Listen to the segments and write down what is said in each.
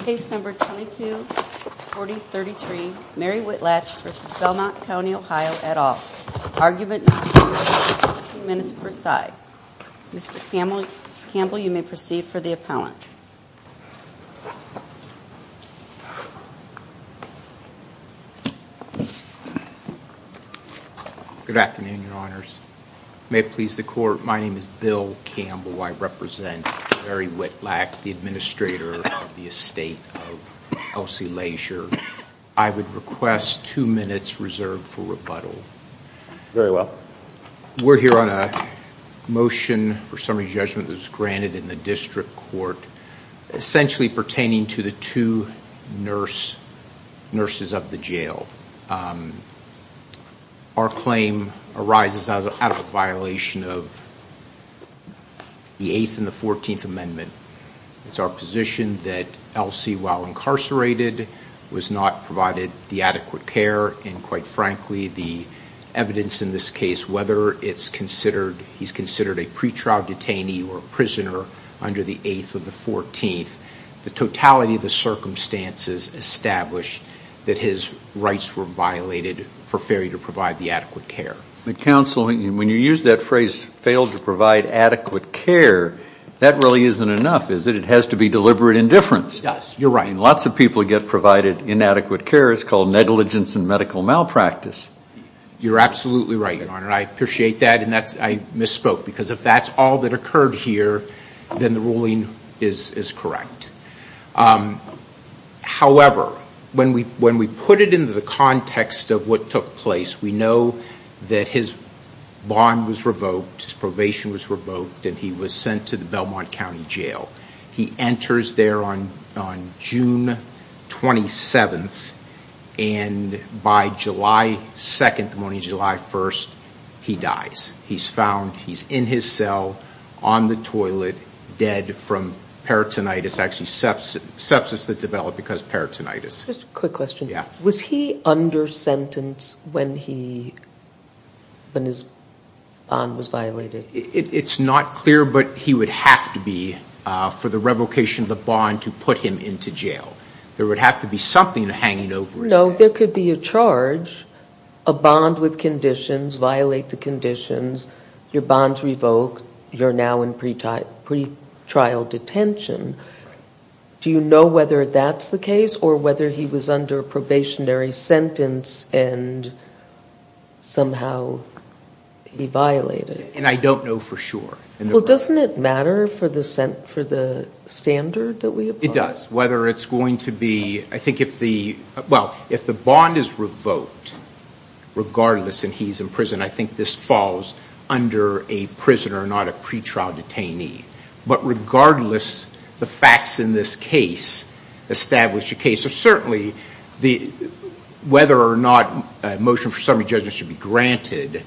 Case number 224033, Mary Whitlatch v. Belmont County OH at all. Argument not presented. Two minutes per side. Mr. Campbell, you may proceed for the appellant. Good afternoon, Your Honors. May it please the Court, my name is Bill Campbell. I represent Mary Whitlatch, the Administrator of the Estate of Elsie Leisure. I would request two minutes reserved for rebuttal. Very well. We're here on a motion for summary judgment that was granted in the District Court, Our claim arises out of a violation of the Eighth and the Fourteenth Amendment. It's our position that Elsie, while incarcerated, was not provided the adequate care, and quite frankly, the evidence in this case, whether it's considered, he's considered a pretrial detainee or a prisoner under the Eighth or the Fourteenth, the totality of the circumstances establish that his rights were violated for failure to provide the adequate care. Counsel, when you use that phrase, failed to provide adequate care, that really isn't enough, is it? It has to be deliberate indifference. Yes, you're right. Lots of people get provided inadequate care. It's called negligence and medical malpractice. You're absolutely right, Your Honor. I appreciate that, and I misspoke, because if that's all that occurred here, then the ruling is correct. However, when we put it into the context of what took place, we know that his bond was revoked, his probation was revoked, and he was sent to the Belmont County Jail. He enters there on June 27th, and by July 2nd, the morning of July 1st, he dies. He's found, he's in his cell, on the toilet, dead from peritonitis, actually sepsis that developed because of peritonitis. Just a quick question. Yeah. Was he under sentence when his bond was violated? It's not clear, but he would have to be for the revocation of the bond to put him into jail. There would have to be something hanging over his head. No, there could be a charge, a bond with conditions, violate the conditions, your bond's revoked, you're now in pretrial detention. Do you know whether that's the case or whether he was under a probationary sentence and somehow he violated? And I don't know for sure. Well, doesn't it matter for the standard that we apply? It does. Whether it's going to be, I think if the, well, if the bond is revoked, regardless, and he's in prison, I think this falls under a prisoner, not a pretrial detainee. But regardless, the facts in this case establish a case. So certainly, whether or not a motion for summary judgment should be granted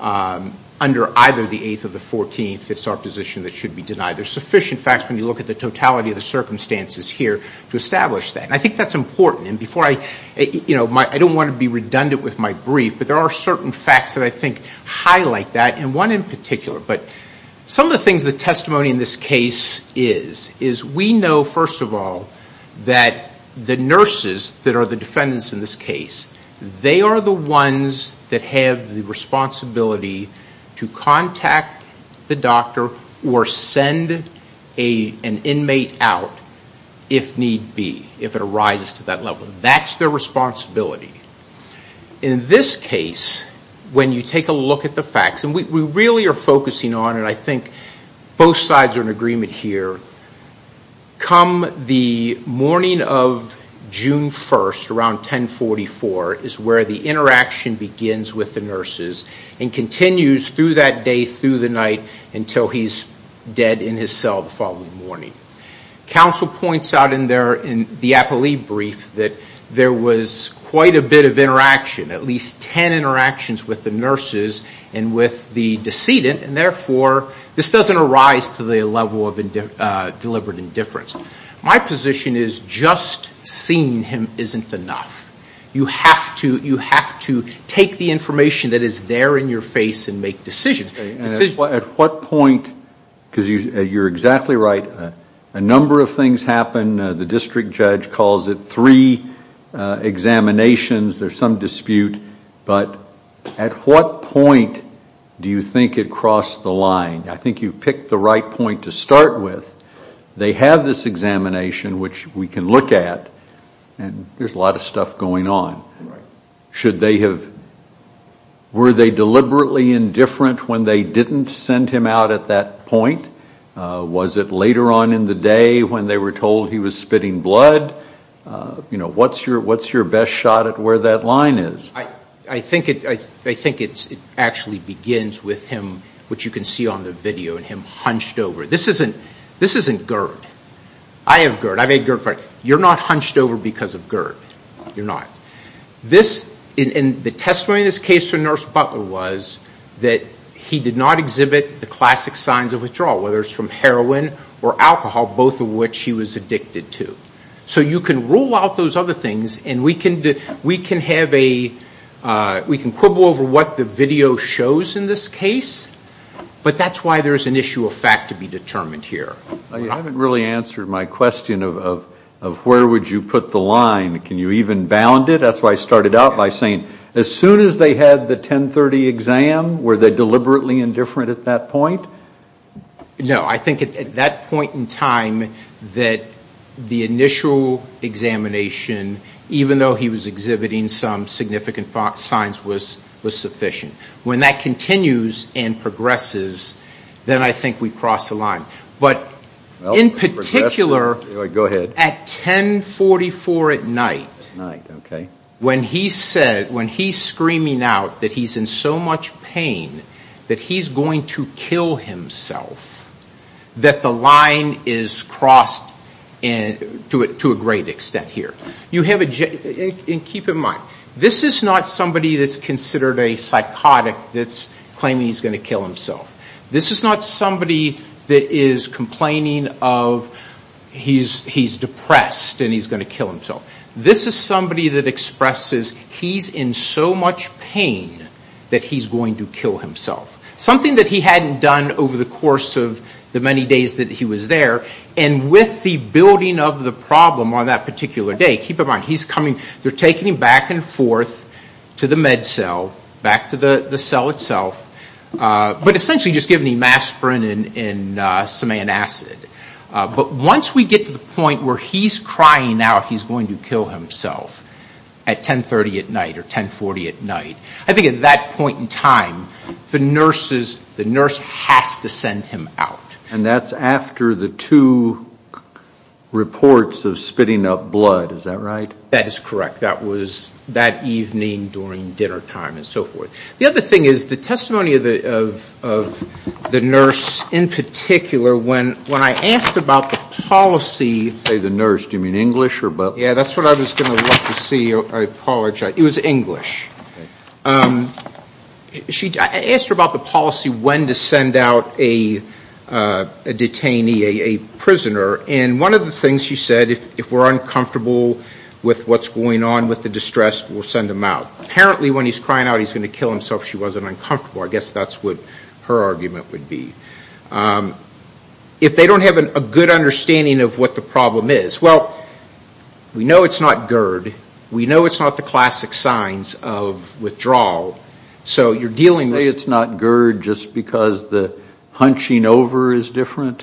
under either the 8th or the 14th, it's our position that it should be denied. There's sufficient facts when you look at the totality of the circumstances here to establish that. And I think that's important. And before I, you know, I don't want to be redundant with my brief, but there are certain facts that I think highlight that, and one in particular. But some of the things that testimony in this case is, is we know, first of all, that the nurses that are the defendants in this case, they are the ones that have the responsibility to contact the doctor or send an inmate out if need be, if it arises to that level. That's their responsibility. In this case, when you take a look at the facts, and we really are focusing on, and I think both sides are in agreement here, come the morning of June 1st, around 1044, is where the interaction begins with the nurses and continues through that day, through the night, until he's dead in his cell the following morning. Counsel points out in the appellee brief that there was quite a bit of interaction, at least 10 interactions with the nurses and with the decedent, and therefore this doesn't arise to the level of deliberate indifference. My position is just seeing him isn't enough. You have to take the information that is there in your face and make decisions. At what point, because you're exactly right, a number of things happen. The district judge calls it three examinations. There's some dispute, but at what point do you think it crossed the line? I think you picked the right point to start with. They have this examination, which we can look at, and there's a lot of stuff going on. Were they deliberately indifferent when they didn't send him out at that point? Was it later on in the day when they were told he was spitting blood? What's your best shot at where that line is? I think it actually begins with him, which you can see on the video, and him hunched over. This isn't GERD. I have GERD. I've had GERD. As a matter of fact, you're not hunched over because of GERD. You're not. The testimony in this case from Nurse Butler was that he did not exhibit the classic signs of withdrawal, whether it's from heroin or alcohol, both of which he was addicted to. You can rule out those other things, and we can quibble over what the video shows in this case, but that's why there's an issue of fact to be determined here. You haven't really answered my question of where would you put the line. Can you even bound it? That's why I started out by saying as soon as they had the 1030 exam, were they deliberately indifferent at that point? No. I think at that point in time that the initial examination, even though he was exhibiting some significant signs, was sufficient. When that continues and progresses, then I think we've crossed the line. But in particular, at 1044 at night, when he's screaming out that he's in so much pain that he's going to kill himself, that the line is crossed to a great extent here. Keep in mind, this is not somebody that's considered a psychotic that's claiming he's going to kill himself. This is not somebody that is complaining of he's depressed and he's going to kill himself. This is somebody that expresses he's in so much pain that he's going to kill himself, something that he hadn't done over the course of the many days that he was there. And with the building of the problem on that particular day, keep in mind, they're taking him back and forth to the med cell, back to the cell itself, but essentially just giving him aspirin and some antacid. But once we get to the point where he's crying out he's going to kill himself at 1030 at night or 1040 at night, I think at that point in time, the nurse has to send him out. And that's after the two reports of spitting up blood, is that right? That is correct. That was that evening during dinner time and so forth. The other thing is the testimony of the nurse in particular, when I asked about the policy. Say the nurse. Do you mean English or both? Yeah, that's what I was going to like to see. I apologize. It was English. I asked her about the policy when to send out a detainee, a prisoner, and one of the things she said, if we're uncomfortable with what's going on with the distress, we'll send him out. Apparently when he's crying out he's going to kill himself if she wasn't uncomfortable. I guess that's what her argument would be. If they don't have a good understanding of what the problem is, well, we know it's not GERD. We know it's not the classic signs of withdrawal. Say it's not GERD just because the hunching over is different?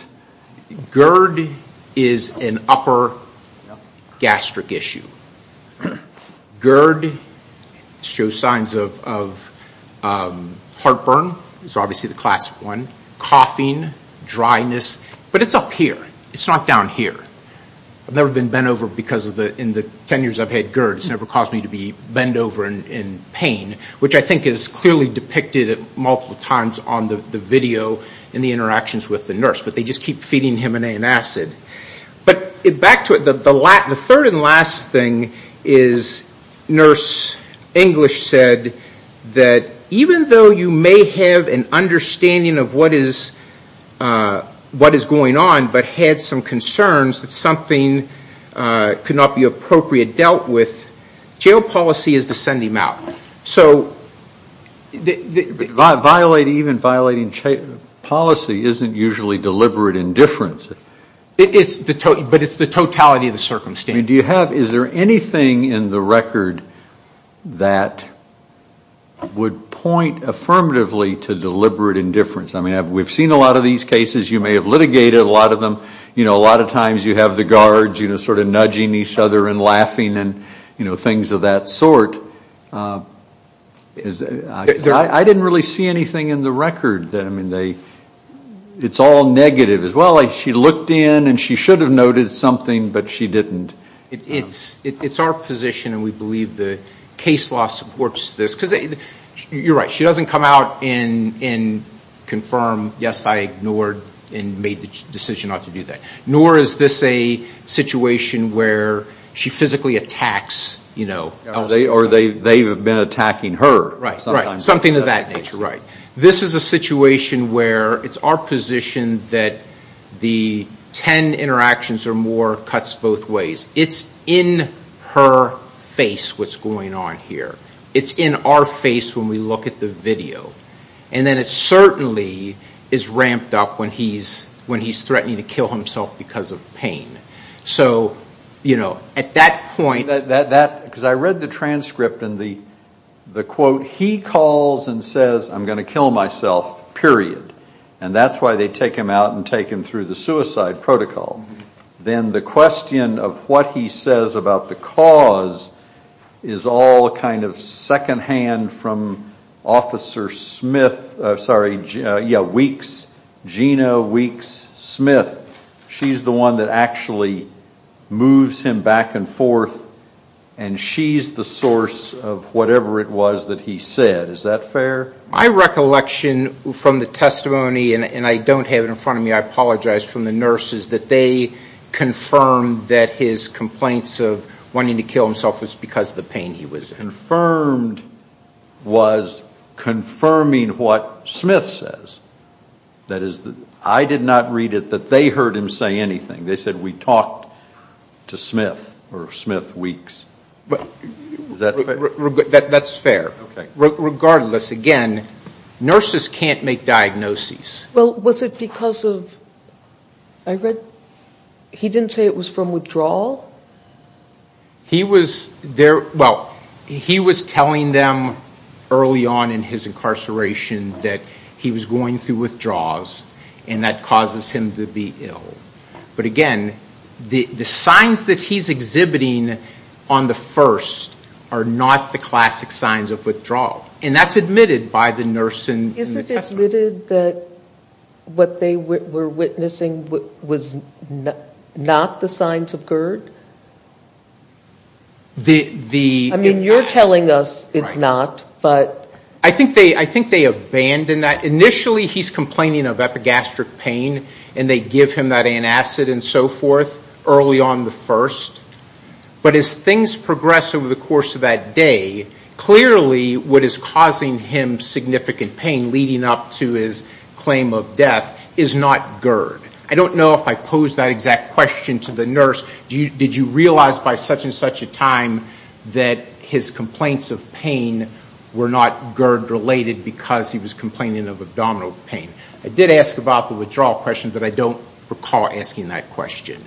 GERD is an upper gastric issue. GERD shows signs of heartburn, which is obviously the classic one, coughing, dryness. But it's up here. It's not down here. I've never been bent over because in the 10 years I've had GERD it's never caused me to be bent over in pain, which I think is clearly depicted multiple times on the video and the interactions with the nurse. But they just keep feeding him an antacid. But back to it, the third and last thing is nurse English said that even though you may have an understanding of what is going on, but had some concerns that something could not be appropriately dealt with, jail policy is to send him out. Even violating policy isn't usually deliberate indifference. But it's the totality of the circumstance. Is there anything in the record that would point affirmatively to deliberate indifference? We've seen a lot of these cases. You may have litigated a lot of them. A lot of times you have the guards sort of nudging each other and laughing and things of that sort. I didn't really see anything in the record. It's all negative as well. She looked in and she should have noted something, but she didn't. It's our position, and we believe the case law supports this. You're right, she doesn't come out and confirm, yes, I ignored and made the decision not to do that. Nor is this a situation where she physically attacks. Or they've been attacking her. Something of that nature, right. This is a situation where it's our position that the ten interactions or more cuts both ways. It's in her face what's going on here. It's in our face when we look at the video. And then it certainly is ramped up when he's threatening to kill himself because of pain. So, you know, at that point. Because I read the transcript and the quote, he calls and says I'm going to kill myself, period. And that's why they take him out and take him through the suicide protocol. Then the question of what he says about the cause is all kind of secondhand from Officer Smith, sorry, yeah, Weeks, Gina Weeks Smith. She's the one that actually moves him back and forth, and she's the source of whatever it was that he said. Is that fair? My recollection from the testimony, and I don't have it in front of me, I apologize, from the nurses, that they confirmed that his complaints of wanting to kill himself was because of the pain he was in. Confirmed was confirming what Smith says. That is, I did not read it that they heard him say anything. They said we talked to Smith or Smith Weeks. Is that fair? That's fair. Regardless, again, nurses can't make diagnoses. Well, was it because of, I read he didn't say it was from withdrawal? He was there, well, he was telling them early on in his incarceration that he was going through withdrawals, and that causes him to be ill. But again, the signs that he's exhibiting on the first are not the classic signs of withdrawal, and that's admitted by the nurse in the testimony. Isn't it admitted that what they were witnessing was not the signs of GERD? I mean, you're telling us it's not, but. I think they abandon that. And they give him that antacid and so forth early on the first. But as things progress over the course of that day, clearly what is causing him significant pain leading up to his claim of death is not GERD. I don't know if I posed that exact question to the nurse. Did you realize by such and such a time that his complaints of pain were not GERD-related because he was complaining of abdominal pain? I did ask about the withdrawal question, but I don't recall asking that question.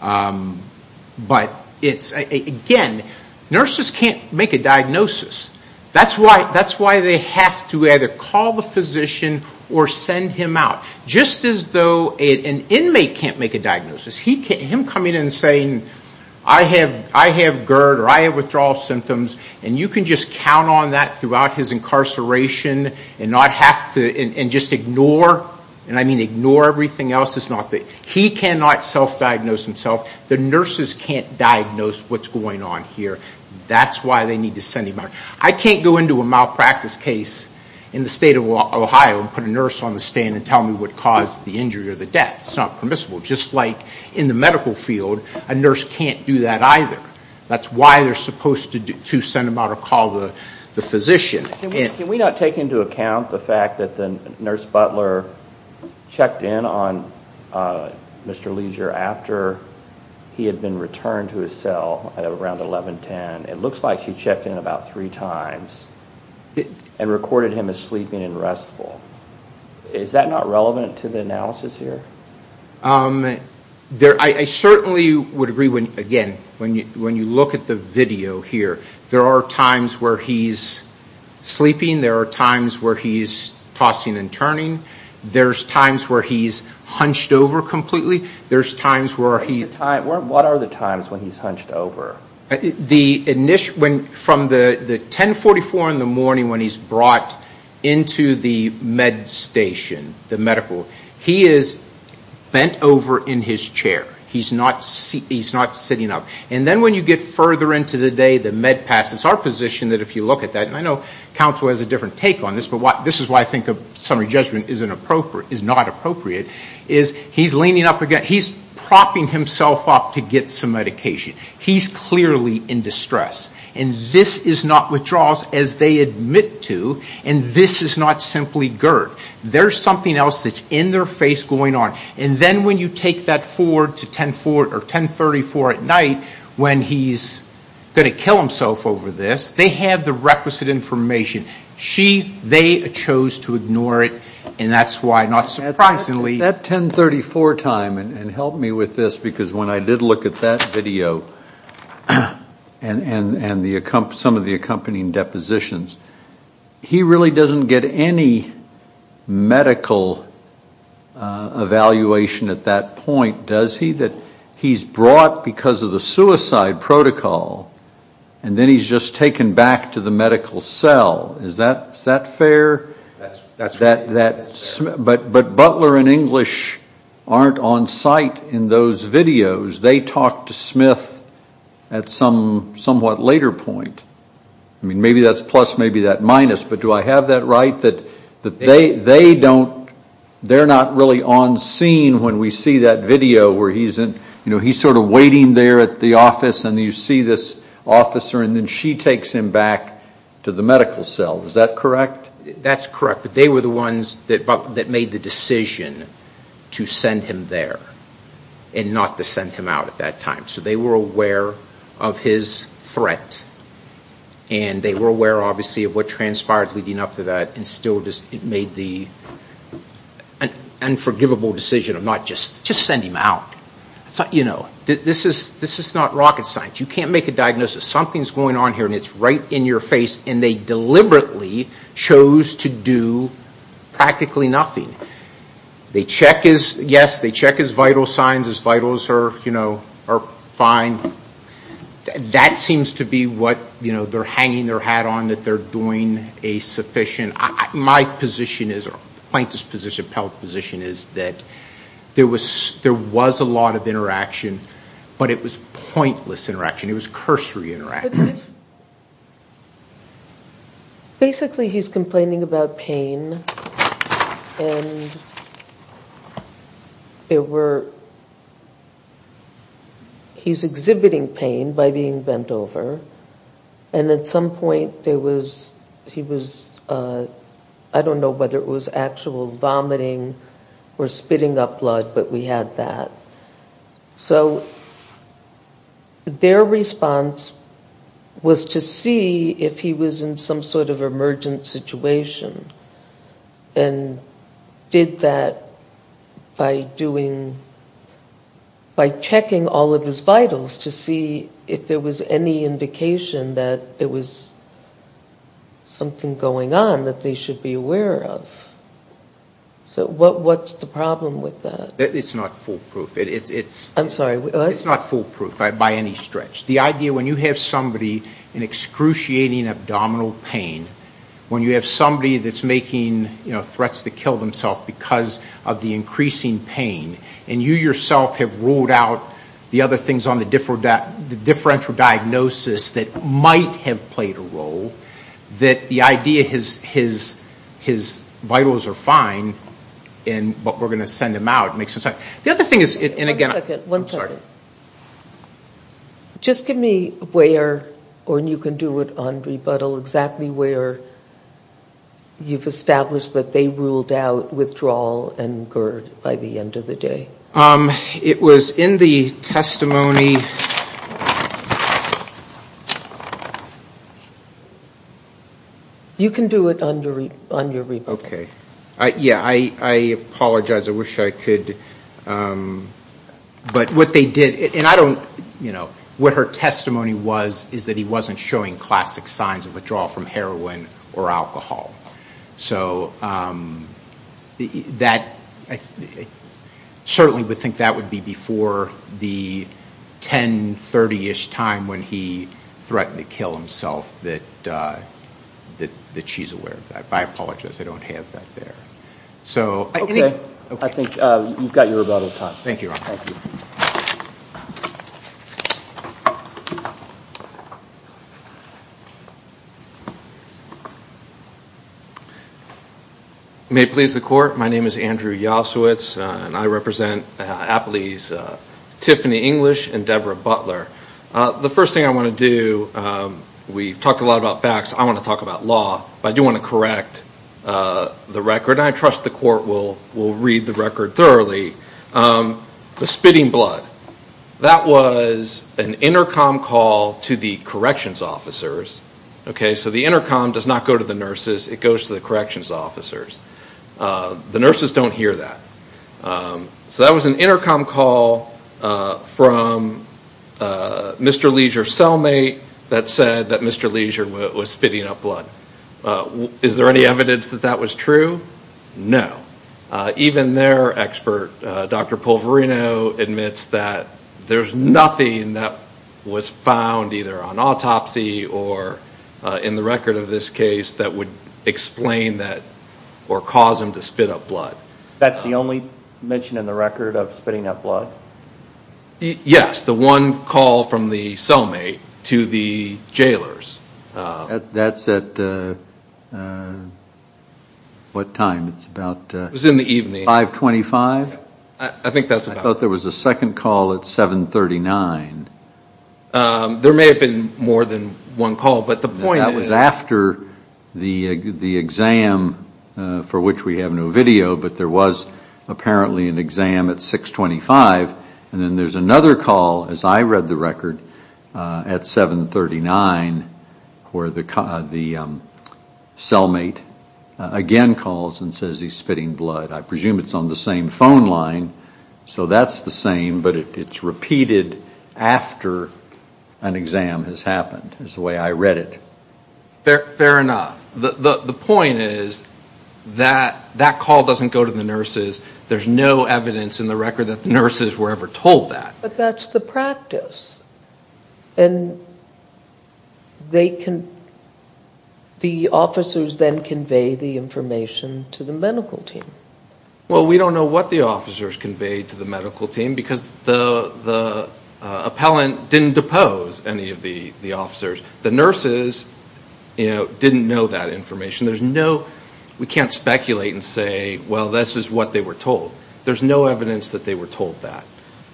But it's, again, nurses can't make a diagnosis. That's why they have to either call the physician or send him out, just as though an inmate can't make a diagnosis. Him coming in and saying, I have GERD or I have withdrawal symptoms, and you can just count on that throughout his incarceration and just ignore, and I mean ignore everything else. He cannot self-diagnose himself. The nurses can't diagnose what's going on here. That's why they need to send him out. I can't go into a malpractice case in the state of Ohio and put a nurse on the stand and tell me what caused the injury or the death. It's not permissible. Just like in the medical field, a nurse can't do that either. That's why they're supposed to send him out or call the physician. Can we not take into account the fact that the nurse Butler checked in on Mr. Leisure after he had been returned to his cell at around 1110? It looks like she checked in about three times and recorded him as sleeping and restful. Is that not relevant to the analysis here? I certainly would agree. Again, when you look at the video here, there are times where he's sleeping. There are times where he's tossing and turning. There's times where he's hunched over completely. There's times where he's- What are the times when he's hunched over? From the 1044 in the morning when he's brought into the med station, the medical, he is bent over in his chair. He's not sitting up. And then when you get further into the day, the med pass, it's our position that if you look at that, and I know counsel has a different take on this, but this is why I think a summary judgment is not appropriate, is he's leaning up again. He's propping himself up to get some medication. He's clearly in distress. And this is not withdrawals as they admit to, and this is not simply GERD. There's something else that's in their face going on. And then when you take that forward to 1034 at night when he's going to kill himself over this, they have the requisite information. They chose to ignore it, and that's why, not surprisingly- That 1034 time, and help me with this, because when I did look at that video and some of the accompanying depositions, he really doesn't get any medical evaluation at that point, does he? He's brought because of the suicide protocol, and then he's just taken back to the medical cell. Is that fair? But Butler and English aren't on site in those videos. They talked to Smith at somewhat later point. I mean, maybe that's plus, maybe that's minus. But do I have that right, that they don't-they're not really on scene when we see that video where he's sort of waiting there at the office, and you see this officer, and then she takes him back to the medical cell. Is that correct? That's correct. But they were the ones that made the decision to send him there and not to send him out at that time. So they were aware of his threat, and they were aware, obviously, of what transpired leading up to that and still made the unforgivable decision of not just-just send him out. This is not rocket science. You can't make a diagnosis. Something's going on here, and it's right in your face, and they deliberately chose to do practically nothing. They check his-yes, they check his vital signs. His vitals are, you know, are fine. That seems to be what, you know, they're hanging their hat on, that they're doing a sufficient-my position is, or Plankton's position, Pelk's position, is that there was a lot of interaction, but it was pointless interaction. It was cursory interaction. Basically, he's complaining about pain, and it were-he's exhibiting pain by being bent over, and at some point there was-he was-I don't know whether it was actual vomiting or spitting up blood, but we had that. So their response was to see if he was in some sort of emergent situation and did that by doing-by checking all of his vitals to see if there was any indication that there was something going on that they should be aware of. So what's the problem with that? It's not foolproof. It's- I'm sorry. It's not foolproof by any stretch. The idea when you have somebody in excruciating abdominal pain, when you have somebody that's making, you know, threats to kill themselves because of the increasing pain, and you yourself have ruled out the other things on the differential diagnosis that might have played a role, that the idea his vitals are fine, but we're going to send him out makes no sense. The other thing is- One second. I'm sorry. Just give me where, or you can do it on rebuttal, exactly where you've established that they ruled out withdrawal and GERD by the end of the day. It was in the testimony. You can do it on your rebuttal. Okay. Yeah, I apologize. I wish I could. But what they did, and I don't, you know, what her testimony was is that he wasn't showing classic signs of withdrawal from heroin or alcohol. So that, I certainly would think that would be before the 1030ish time when he threatened to kill himself that she's aware of that. I apologize. I don't have that there. Okay. I think you've got your rebuttal time. Thank you, Ron. Thank you. May it please the Court, my name is Andrew Yasowitz, and I represent Appley's Tiffany English and Deborah Butler. The first thing I want to do, we've talked a lot about facts. I want to talk about law. But I do want to correct the record. And I trust the Court will read the record thoroughly. The spitting blood, that was an intercom call to the corrections officers. Okay. So the intercom does not go to the nurses. It goes to the corrections officers. The nurses don't hear that. So that was an intercom call from Mr. Leisure's cellmate that said that Mr. Leisure was spitting up blood. Is there any evidence that that was true? No. Even their expert, Dr. Poverino, admits that there's nothing that was found either on autopsy or in the record of this case that would explain that or cause him to spit up blood. That's the only mention in the record of spitting up blood? Yes. The one call from the cellmate to the jailers. That's at what time? It's about 525? I think that's about it. I thought there was a second call at 739. There may have been more than one call. But the point is that was after the exam, for which we have no video, but there was apparently an exam at 625. And then there's another call, as I read the record, at 739 where the cellmate again calls and says he's spitting blood. I presume it's on the same phone line. So that's the same, but it's repeated after an exam has happened is the way I read it. Fair enough. The point is that that call doesn't go to the nurses. There's no evidence in the record that the nurses were ever told that. But that's the practice. And the officers then convey the information to the medical team. Well, we don't know what the officers conveyed to the medical team because the appellant didn't depose any of the officers. The nurses didn't know that information. We can't speculate and say, well, this is what they were told. There's no evidence that they were told that.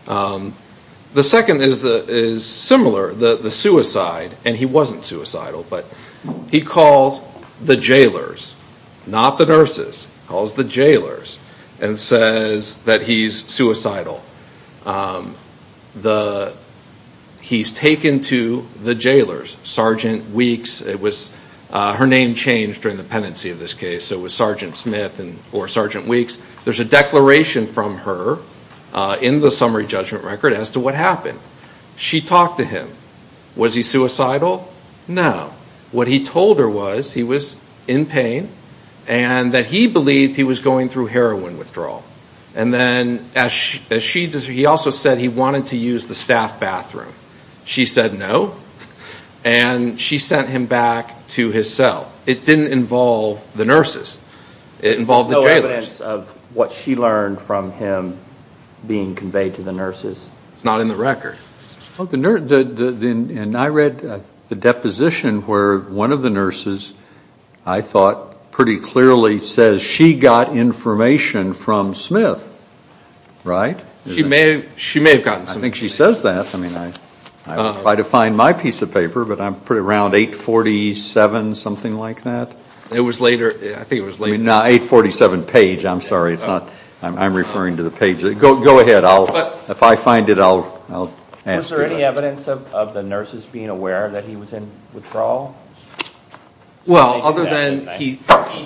The second is similar, the suicide. And he wasn't suicidal, but he calls the jailers, not the nurses, calls the jailers and says that he's suicidal. He's taken to the jailers. Sergeant Weeks, her name changed during the pendency of this case, so it was Sergeant Smith or Sergeant Weeks. There's a declaration from her in the summary judgment record as to what happened. She talked to him. Was he suicidal? No. What he told her was he was in pain and that he believed he was going through heroin withdrawal. And then he also said he wanted to use the staff bathroom. She said no, and she sent him back to his cell. It didn't involve the nurses. It involved the jailers. There's no evidence of what she learned from him being conveyed to the nurses. It's not in the record. And I read the deposition where one of the nurses, I thought pretty clearly, says she got information from Smith, right? She may have gotten some. I think she says that. I mean, if I define my piece of paper, but around 847, something like that? It was later. I think it was later. I mean, 847 page. I'm sorry. I'm referring to the page. Go ahead. If I find it, I'll answer it. Was there any evidence of the nurses being aware that he was in withdrawal? Well, other than he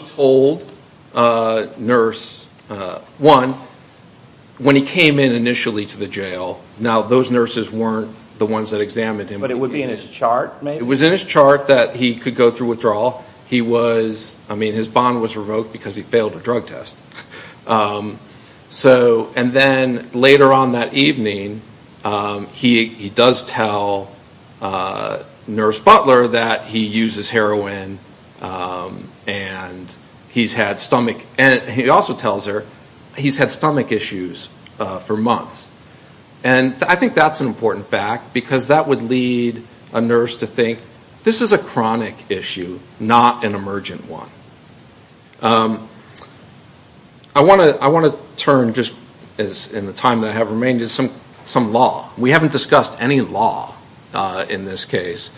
told nurse one, when he came in initially to the jail, now those nurses weren't the ones that examined him. But it would be in his chart, maybe? It was in his chart that he could go through withdrawal. I mean, his bond was revoked because he failed a drug test. And then later on that evening, he does tell nurse Butler that he uses heroin and he also tells her he's had stomach issues for months. And I think that's an important fact because that would lead a nurse to think, this is a chronic issue, not an emergent one. I want to turn, just in the time that I have remaining, to some law. We haven't discussed any law in this case.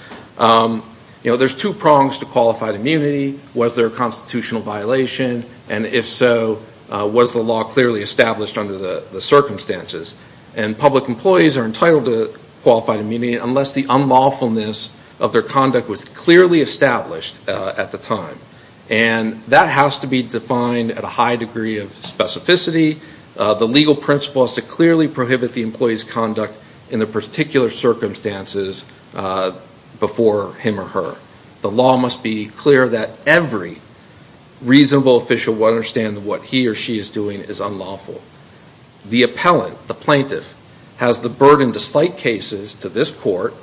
You know, there's two prongs to qualified immunity. Was there a constitutional violation? And if so, was the law clearly established under the circumstances? And public employees are entitled to qualified immunity unless the unlawfulness of their conduct was clearly established at the time. And that has to be defined at a high degree of specificity. The legal principle has to clearly prohibit the employee's conduct in the particular circumstances before him or her. The law must be clear that every reasonable official will understand that what he or she is doing is unlawful. The appellant, the plaintiff, has the burden to cite cases to this court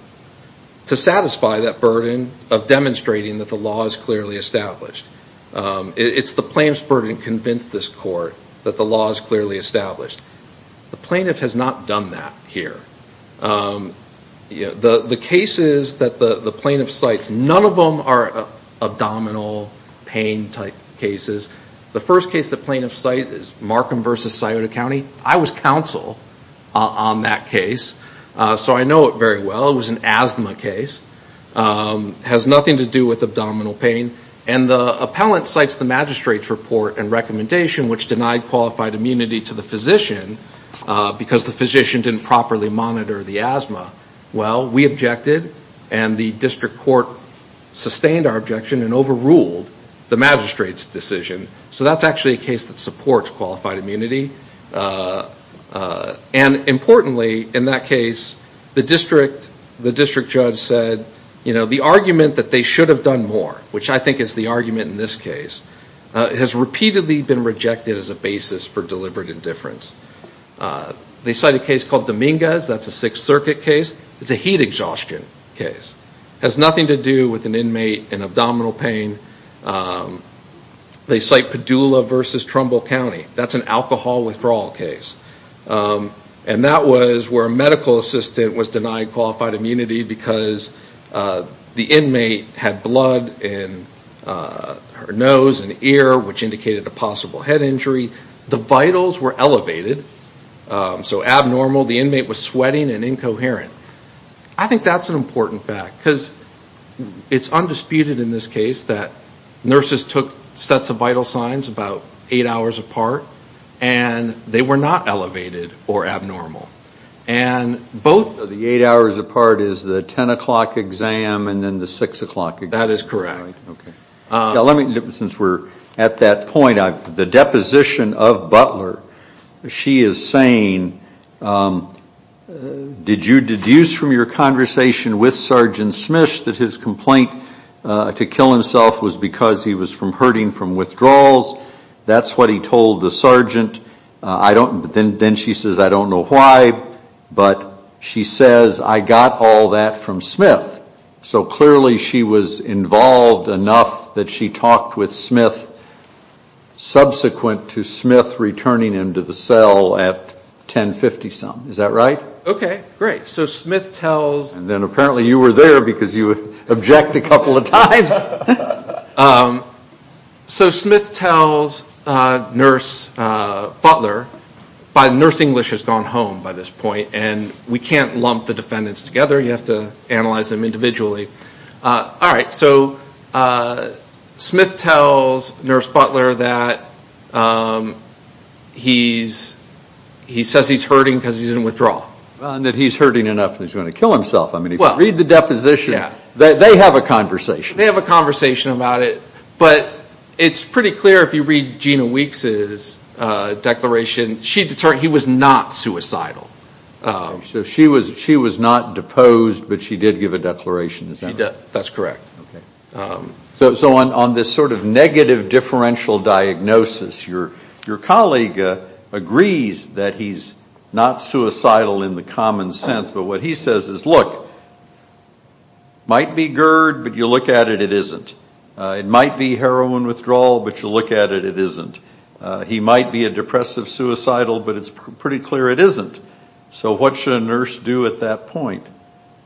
to satisfy that burden of demonstrating that the law is clearly established. It's the plaintiff's burden to convince this court that the law is clearly established. The plaintiff has not done that here. The cases that the plaintiff cites, none of them are abdominal pain-type cases. The first case the plaintiff cites is Markham v. Scioto County. I was counsel on that case, so I know it very well. It was an asthma case. It has nothing to do with abdominal pain. And the appellant cites the magistrate's report and recommendation, which denied qualified immunity to the physician because the physician didn't properly monitor the asthma. Well, we objected, and the district court sustained our objection and overruled the magistrate's decision. So that's actually a case that supports qualified immunity. And importantly in that case, the district judge said, you know, the argument that they should have done more, which I think is the argument in this case, has repeatedly been rejected as a basis for deliberate indifference. They cite a case called Dominguez. That's a Sixth Circuit case. It's a heat exhaustion case. It has nothing to do with an inmate in abdominal pain. They cite Padula v. Trumbull County. That's an alcohol withdrawal case. And that was where a medical assistant was denied qualified immunity because the inmate had blood in her nose and ear, which indicated a possible head injury. The vitals were elevated, so abnormal. The inmate was sweating and incoherent. I think that's an important fact because it's undisputed in this case that nurses took sets of vital signs about eight hours apart, and they were not elevated or abnormal. So the eight hours apart is the 10 o'clock exam and then the 6 o'clock exam. That is correct. Since we're at that point, the deposition of Butler, she is saying, did you deduce from your conversation with Sergeant Smish that his complaint to kill himself was because he was hurting from withdrawals? That's what he told the sergeant. Then she says, I don't know why, but she says, I got all that from Smith. So clearly she was involved enough that she talked with Smith. Subsequent to Smith returning him to the cell at 10.50 some. Is that right? Okay, great. So Smith tells... And then apparently you were there because you objected a couple of times. So Smith tells Nurse Butler, but Nurse English has gone home by this point, and we can't lump the defendants together. You have to analyze them individually. All right, so Smith tells Nurse Butler that he says he's hurting because he's in withdrawal. And that he's hurting enough that he's going to kill himself. I mean, if you read the deposition, they have a conversation. They have a conversation about it, but it's pretty clear if you read Gina Weeks' declaration, she determined he was not suicidal. So she was not deposed, but she did give a declaration, is that right? She did. That's correct. So on this sort of negative differential diagnosis, your colleague agrees that he's not suicidal in the common sense, but what he says is, look, might be GERD, but you look at it, it isn't. It might be heroin withdrawal, but you look at it, it isn't. He might be a depressive suicidal, but it's pretty clear it isn't. So what should a nurse do at that point?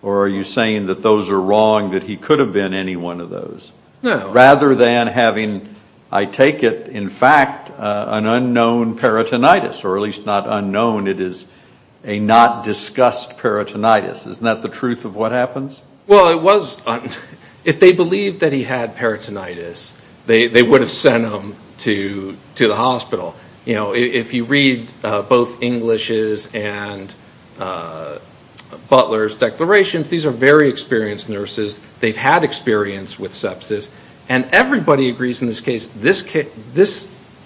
Or are you saying that those are wrong, that he could have been any one of those? No. Rather than having, I take it, in fact, an unknown peritonitis, or at least not unknown, it is a not discussed peritonitis. Isn't that the truth of what happens? Well, it was. If they believed that he had peritonitis, they would have sent him to the hospital. If you read both English's and Butler's declarations, these are very experienced nurses. They've had experience with sepsis. And everybody agrees in this case, this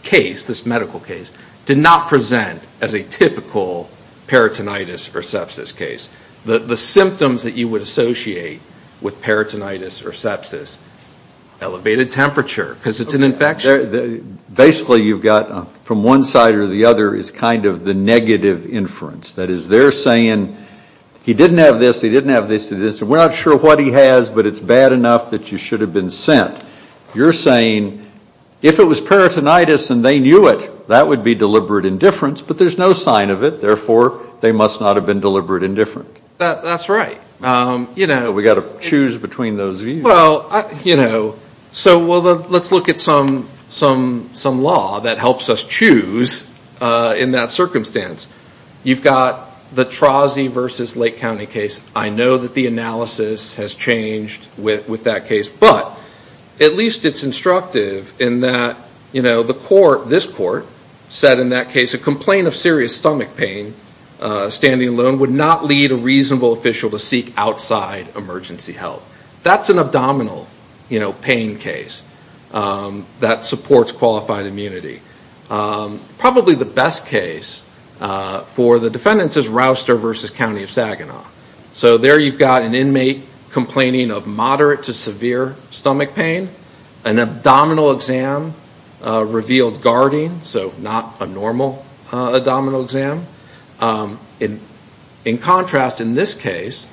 case, this medical case, did not present as a typical peritonitis or sepsis case. The symptoms that you would associate with peritonitis or sepsis, elevated temperature, because it's an infection. Basically, you've got from one side or the other is kind of the negative inference. That is, they're saying he didn't have this, he didn't have this, he didn't have this. We're not sure what he has, but it's bad enough that you should have been sent. You're saying if it was peritonitis and they knew it, that would be deliberate indifference. But there's no sign of it. Therefore, they must not have been deliberate indifferent. That's right. We've got to choose between those views. Well, you know, so let's look at some law that helps us choose in that circumstance. You've got the Trozzi versus Lake County case. I know that the analysis has changed with that case. But at least it's instructive in that, you know, the court, this court, said in that case, a complaint of serious stomach pain, standing alone, would not lead a reasonable official to seek outside emergency help. That's an abdominal, you know, pain case that supports qualified immunity. Probably the best case for the defendants is Rouster versus County of Saginaw. So there you've got an inmate complaining of moderate to severe stomach pain. An abdominal exam revealed guarding, so not a normal abdominal exam. In contrast, in this case,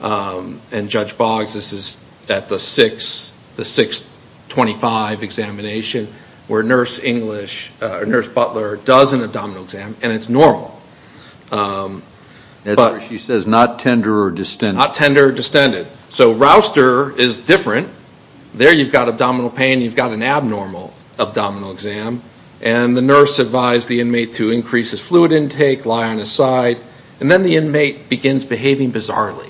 and Judge Boggs, this is at the 625 examination, where Nurse English, or Nurse Butler does an abdominal exam, and it's normal. She says not tender or distended. Not tender or distended. So Rouster is different. There you've got abdominal pain. You've got an abnormal abdominal exam. And the nurse advised the inmate to increase his fluid intake, lie on his side. And then the inmate begins behaving bizarrely.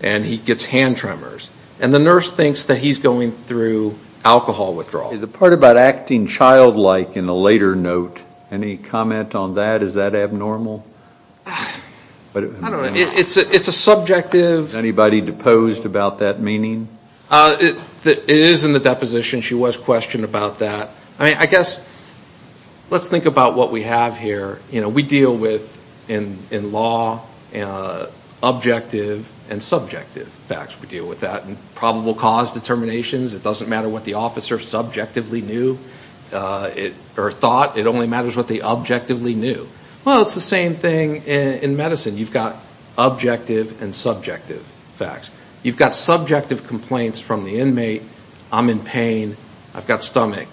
And he gets hand tremors. And the nurse thinks that he's going through alcohol withdrawal. The part about acting childlike in the later note, any comment on that? Is that abnormal? I don't know. It's a subjective. Anybody deposed about that meaning? It is in the deposition. She was questioned about that. I mean, I guess let's think about what we have here. You know, we deal with, in law, objective and subjective facts. We deal with that in probable cause determinations. It doesn't matter what the officer subjectively knew or thought. It only matters what they objectively knew. Well, it's the same thing in medicine. You've got objective and subjective facts. You've got subjective complaints from the inmate. I'm in pain. I've got stomach.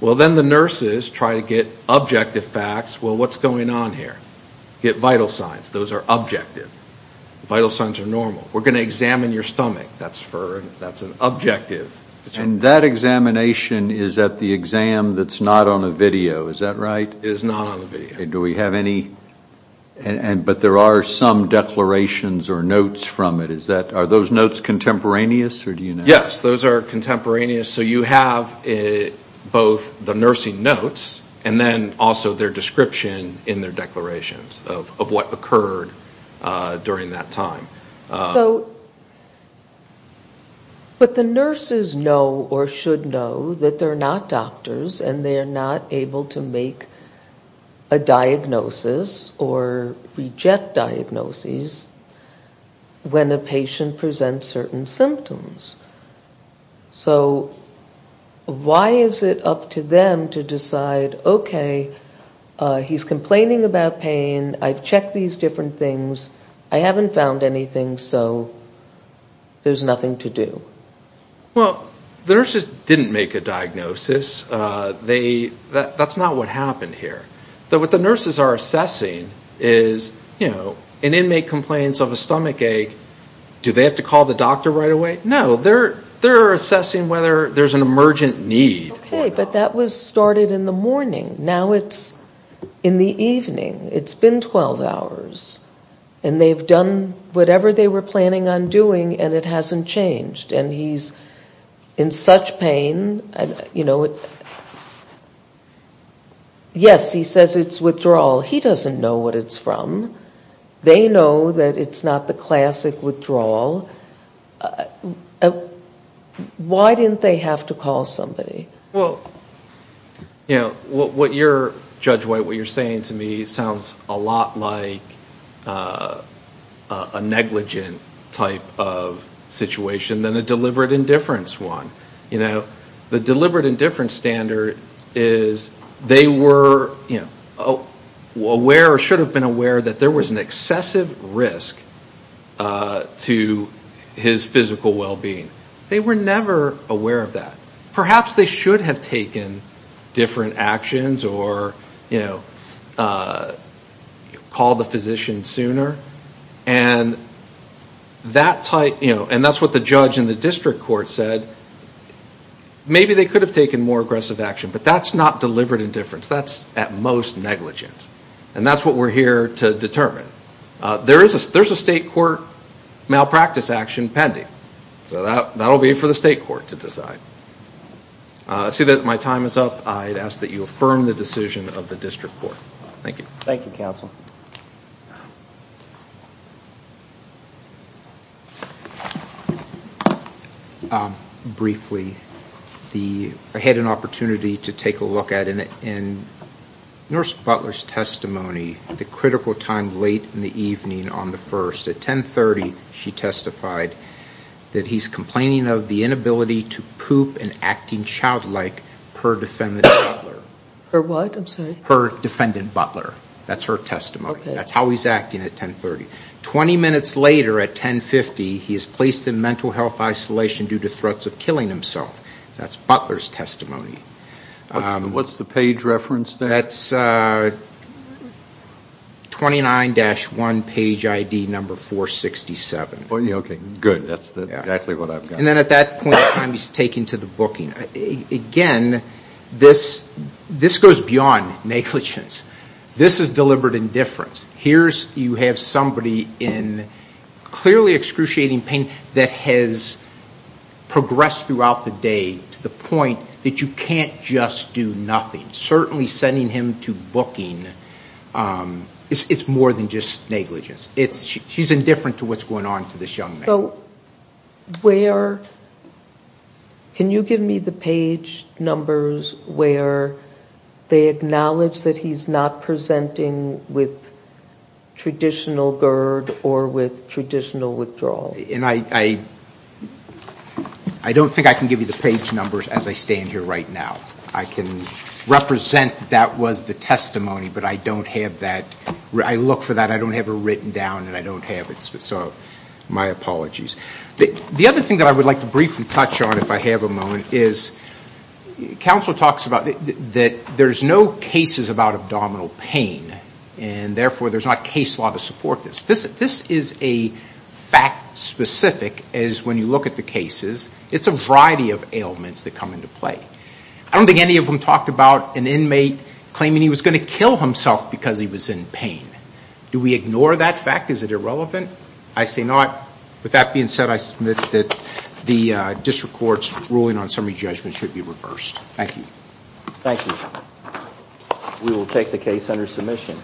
Well, then the nurses try to get objective facts. Well, what's going on here? Get vital signs. Those are objective. Vital signs are normal. We're going to examine your stomach. That's an objective. And that examination is at the exam that's not on a video. Is that right? It is not on a video. Do we have any? But there are some declarations or notes from it. Are those notes contemporaneous? Yes, those are contemporaneous. So you have both the nursing notes and then also their description in their declarations of what occurred during that time. But the nurses know or should know that they're not doctors and they're not able to make a diagnosis or reject diagnoses when a patient presents certain symptoms. So why is it up to them to decide, okay, he's complaining about pain, I've checked these different things, I haven't found anything, so there's nothing to do? Well, the nurses didn't make a diagnosis. That's not what happened here. What the nurses are assessing is, you know, an inmate complains of a stomach ache. Do they have to call the doctor right away? No, they're assessing whether there's an emergent need. Okay, but that was started in the morning. Now it's in the evening. It's been 12 hours, and they've done whatever they were planning on doing and it hasn't changed, and he's in such pain. Yes, he says it's withdrawal. He doesn't know what it's from. They know that it's not the classic withdrawal. Why didn't they have to call somebody? Well, you know, what you're, Judge White, what you're saying to me sounds a lot like a negligent type of situation than a deliberate indifference one. The deliberate indifference standard is they were aware or should have been aware that there was an excessive risk to his physical well-being. They were never aware of that. Perhaps they should have taken different actions or, you know, called the physician sooner, and that's what the judge in the district court said. Maybe they could have taken more aggressive action, but that's not deliberate indifference. That's at most negligent, and that's what we're here to determine. There's a state court malpractice action pending, so that will be for the state court to decide. I see that my time is up. I'd ask that you affirm the decision of the district court. Thank you. Thank you, counsel. Briefly, I had an opportunity to take a look at it. In Nurse Butler's testimony, the critical time late in the evening on the 1st, at 10.30 she testified that he's complaining of the inability to poop and acting childlike per defendant Butler. Per what? I'm sorry. Per defendant Butler. That's her testimony. Okay. That's how he's acting at 10.30. Twenty minutes later at 10.50, he is placed in mental health isolation due to threats of killing himself. That's Butler's testimony. What's the page reference there? That's 29-1 page ID number 467. Okay, good. That's exactly what I've got. And then at that point in time he's taken to the booking. Again, this goes beyond negligence. This is deliberate indifference. Here you have somebody in clearly excruciating pain that has progressed throughout the day to the point that you can't just do nothing. Certainly sending him to booking is more than just negligence. She's indifferent to what's going on to this young man. So where can you give me the page numbers where they acknowledge that he's not presenting with traditional GERD or with traditional withdrawal? I don't think I can give you the page numbers as I stand here right now. I can represent that that was the testimony, but I don't have that. I look for that. I don't have it written down, and I don't have it. So my apologies. The other thing that I would like to briefly touch on if I have a moment is counsel talks about that there's no cases about abdominal pain, and therefore there's not case law to support this. This is a fact specific as when you look at the cases. It's a variety of ailments that come into play. I don't think any of them talked about an inmate claiming he was going to kill himself because he was in pain. Do we ignore that fact? Is it irrelevant? I say not. With that being said, I submit that the district court's ruling on summary judgment should be reversed. Thank you. Thank you. We will take the case under submission.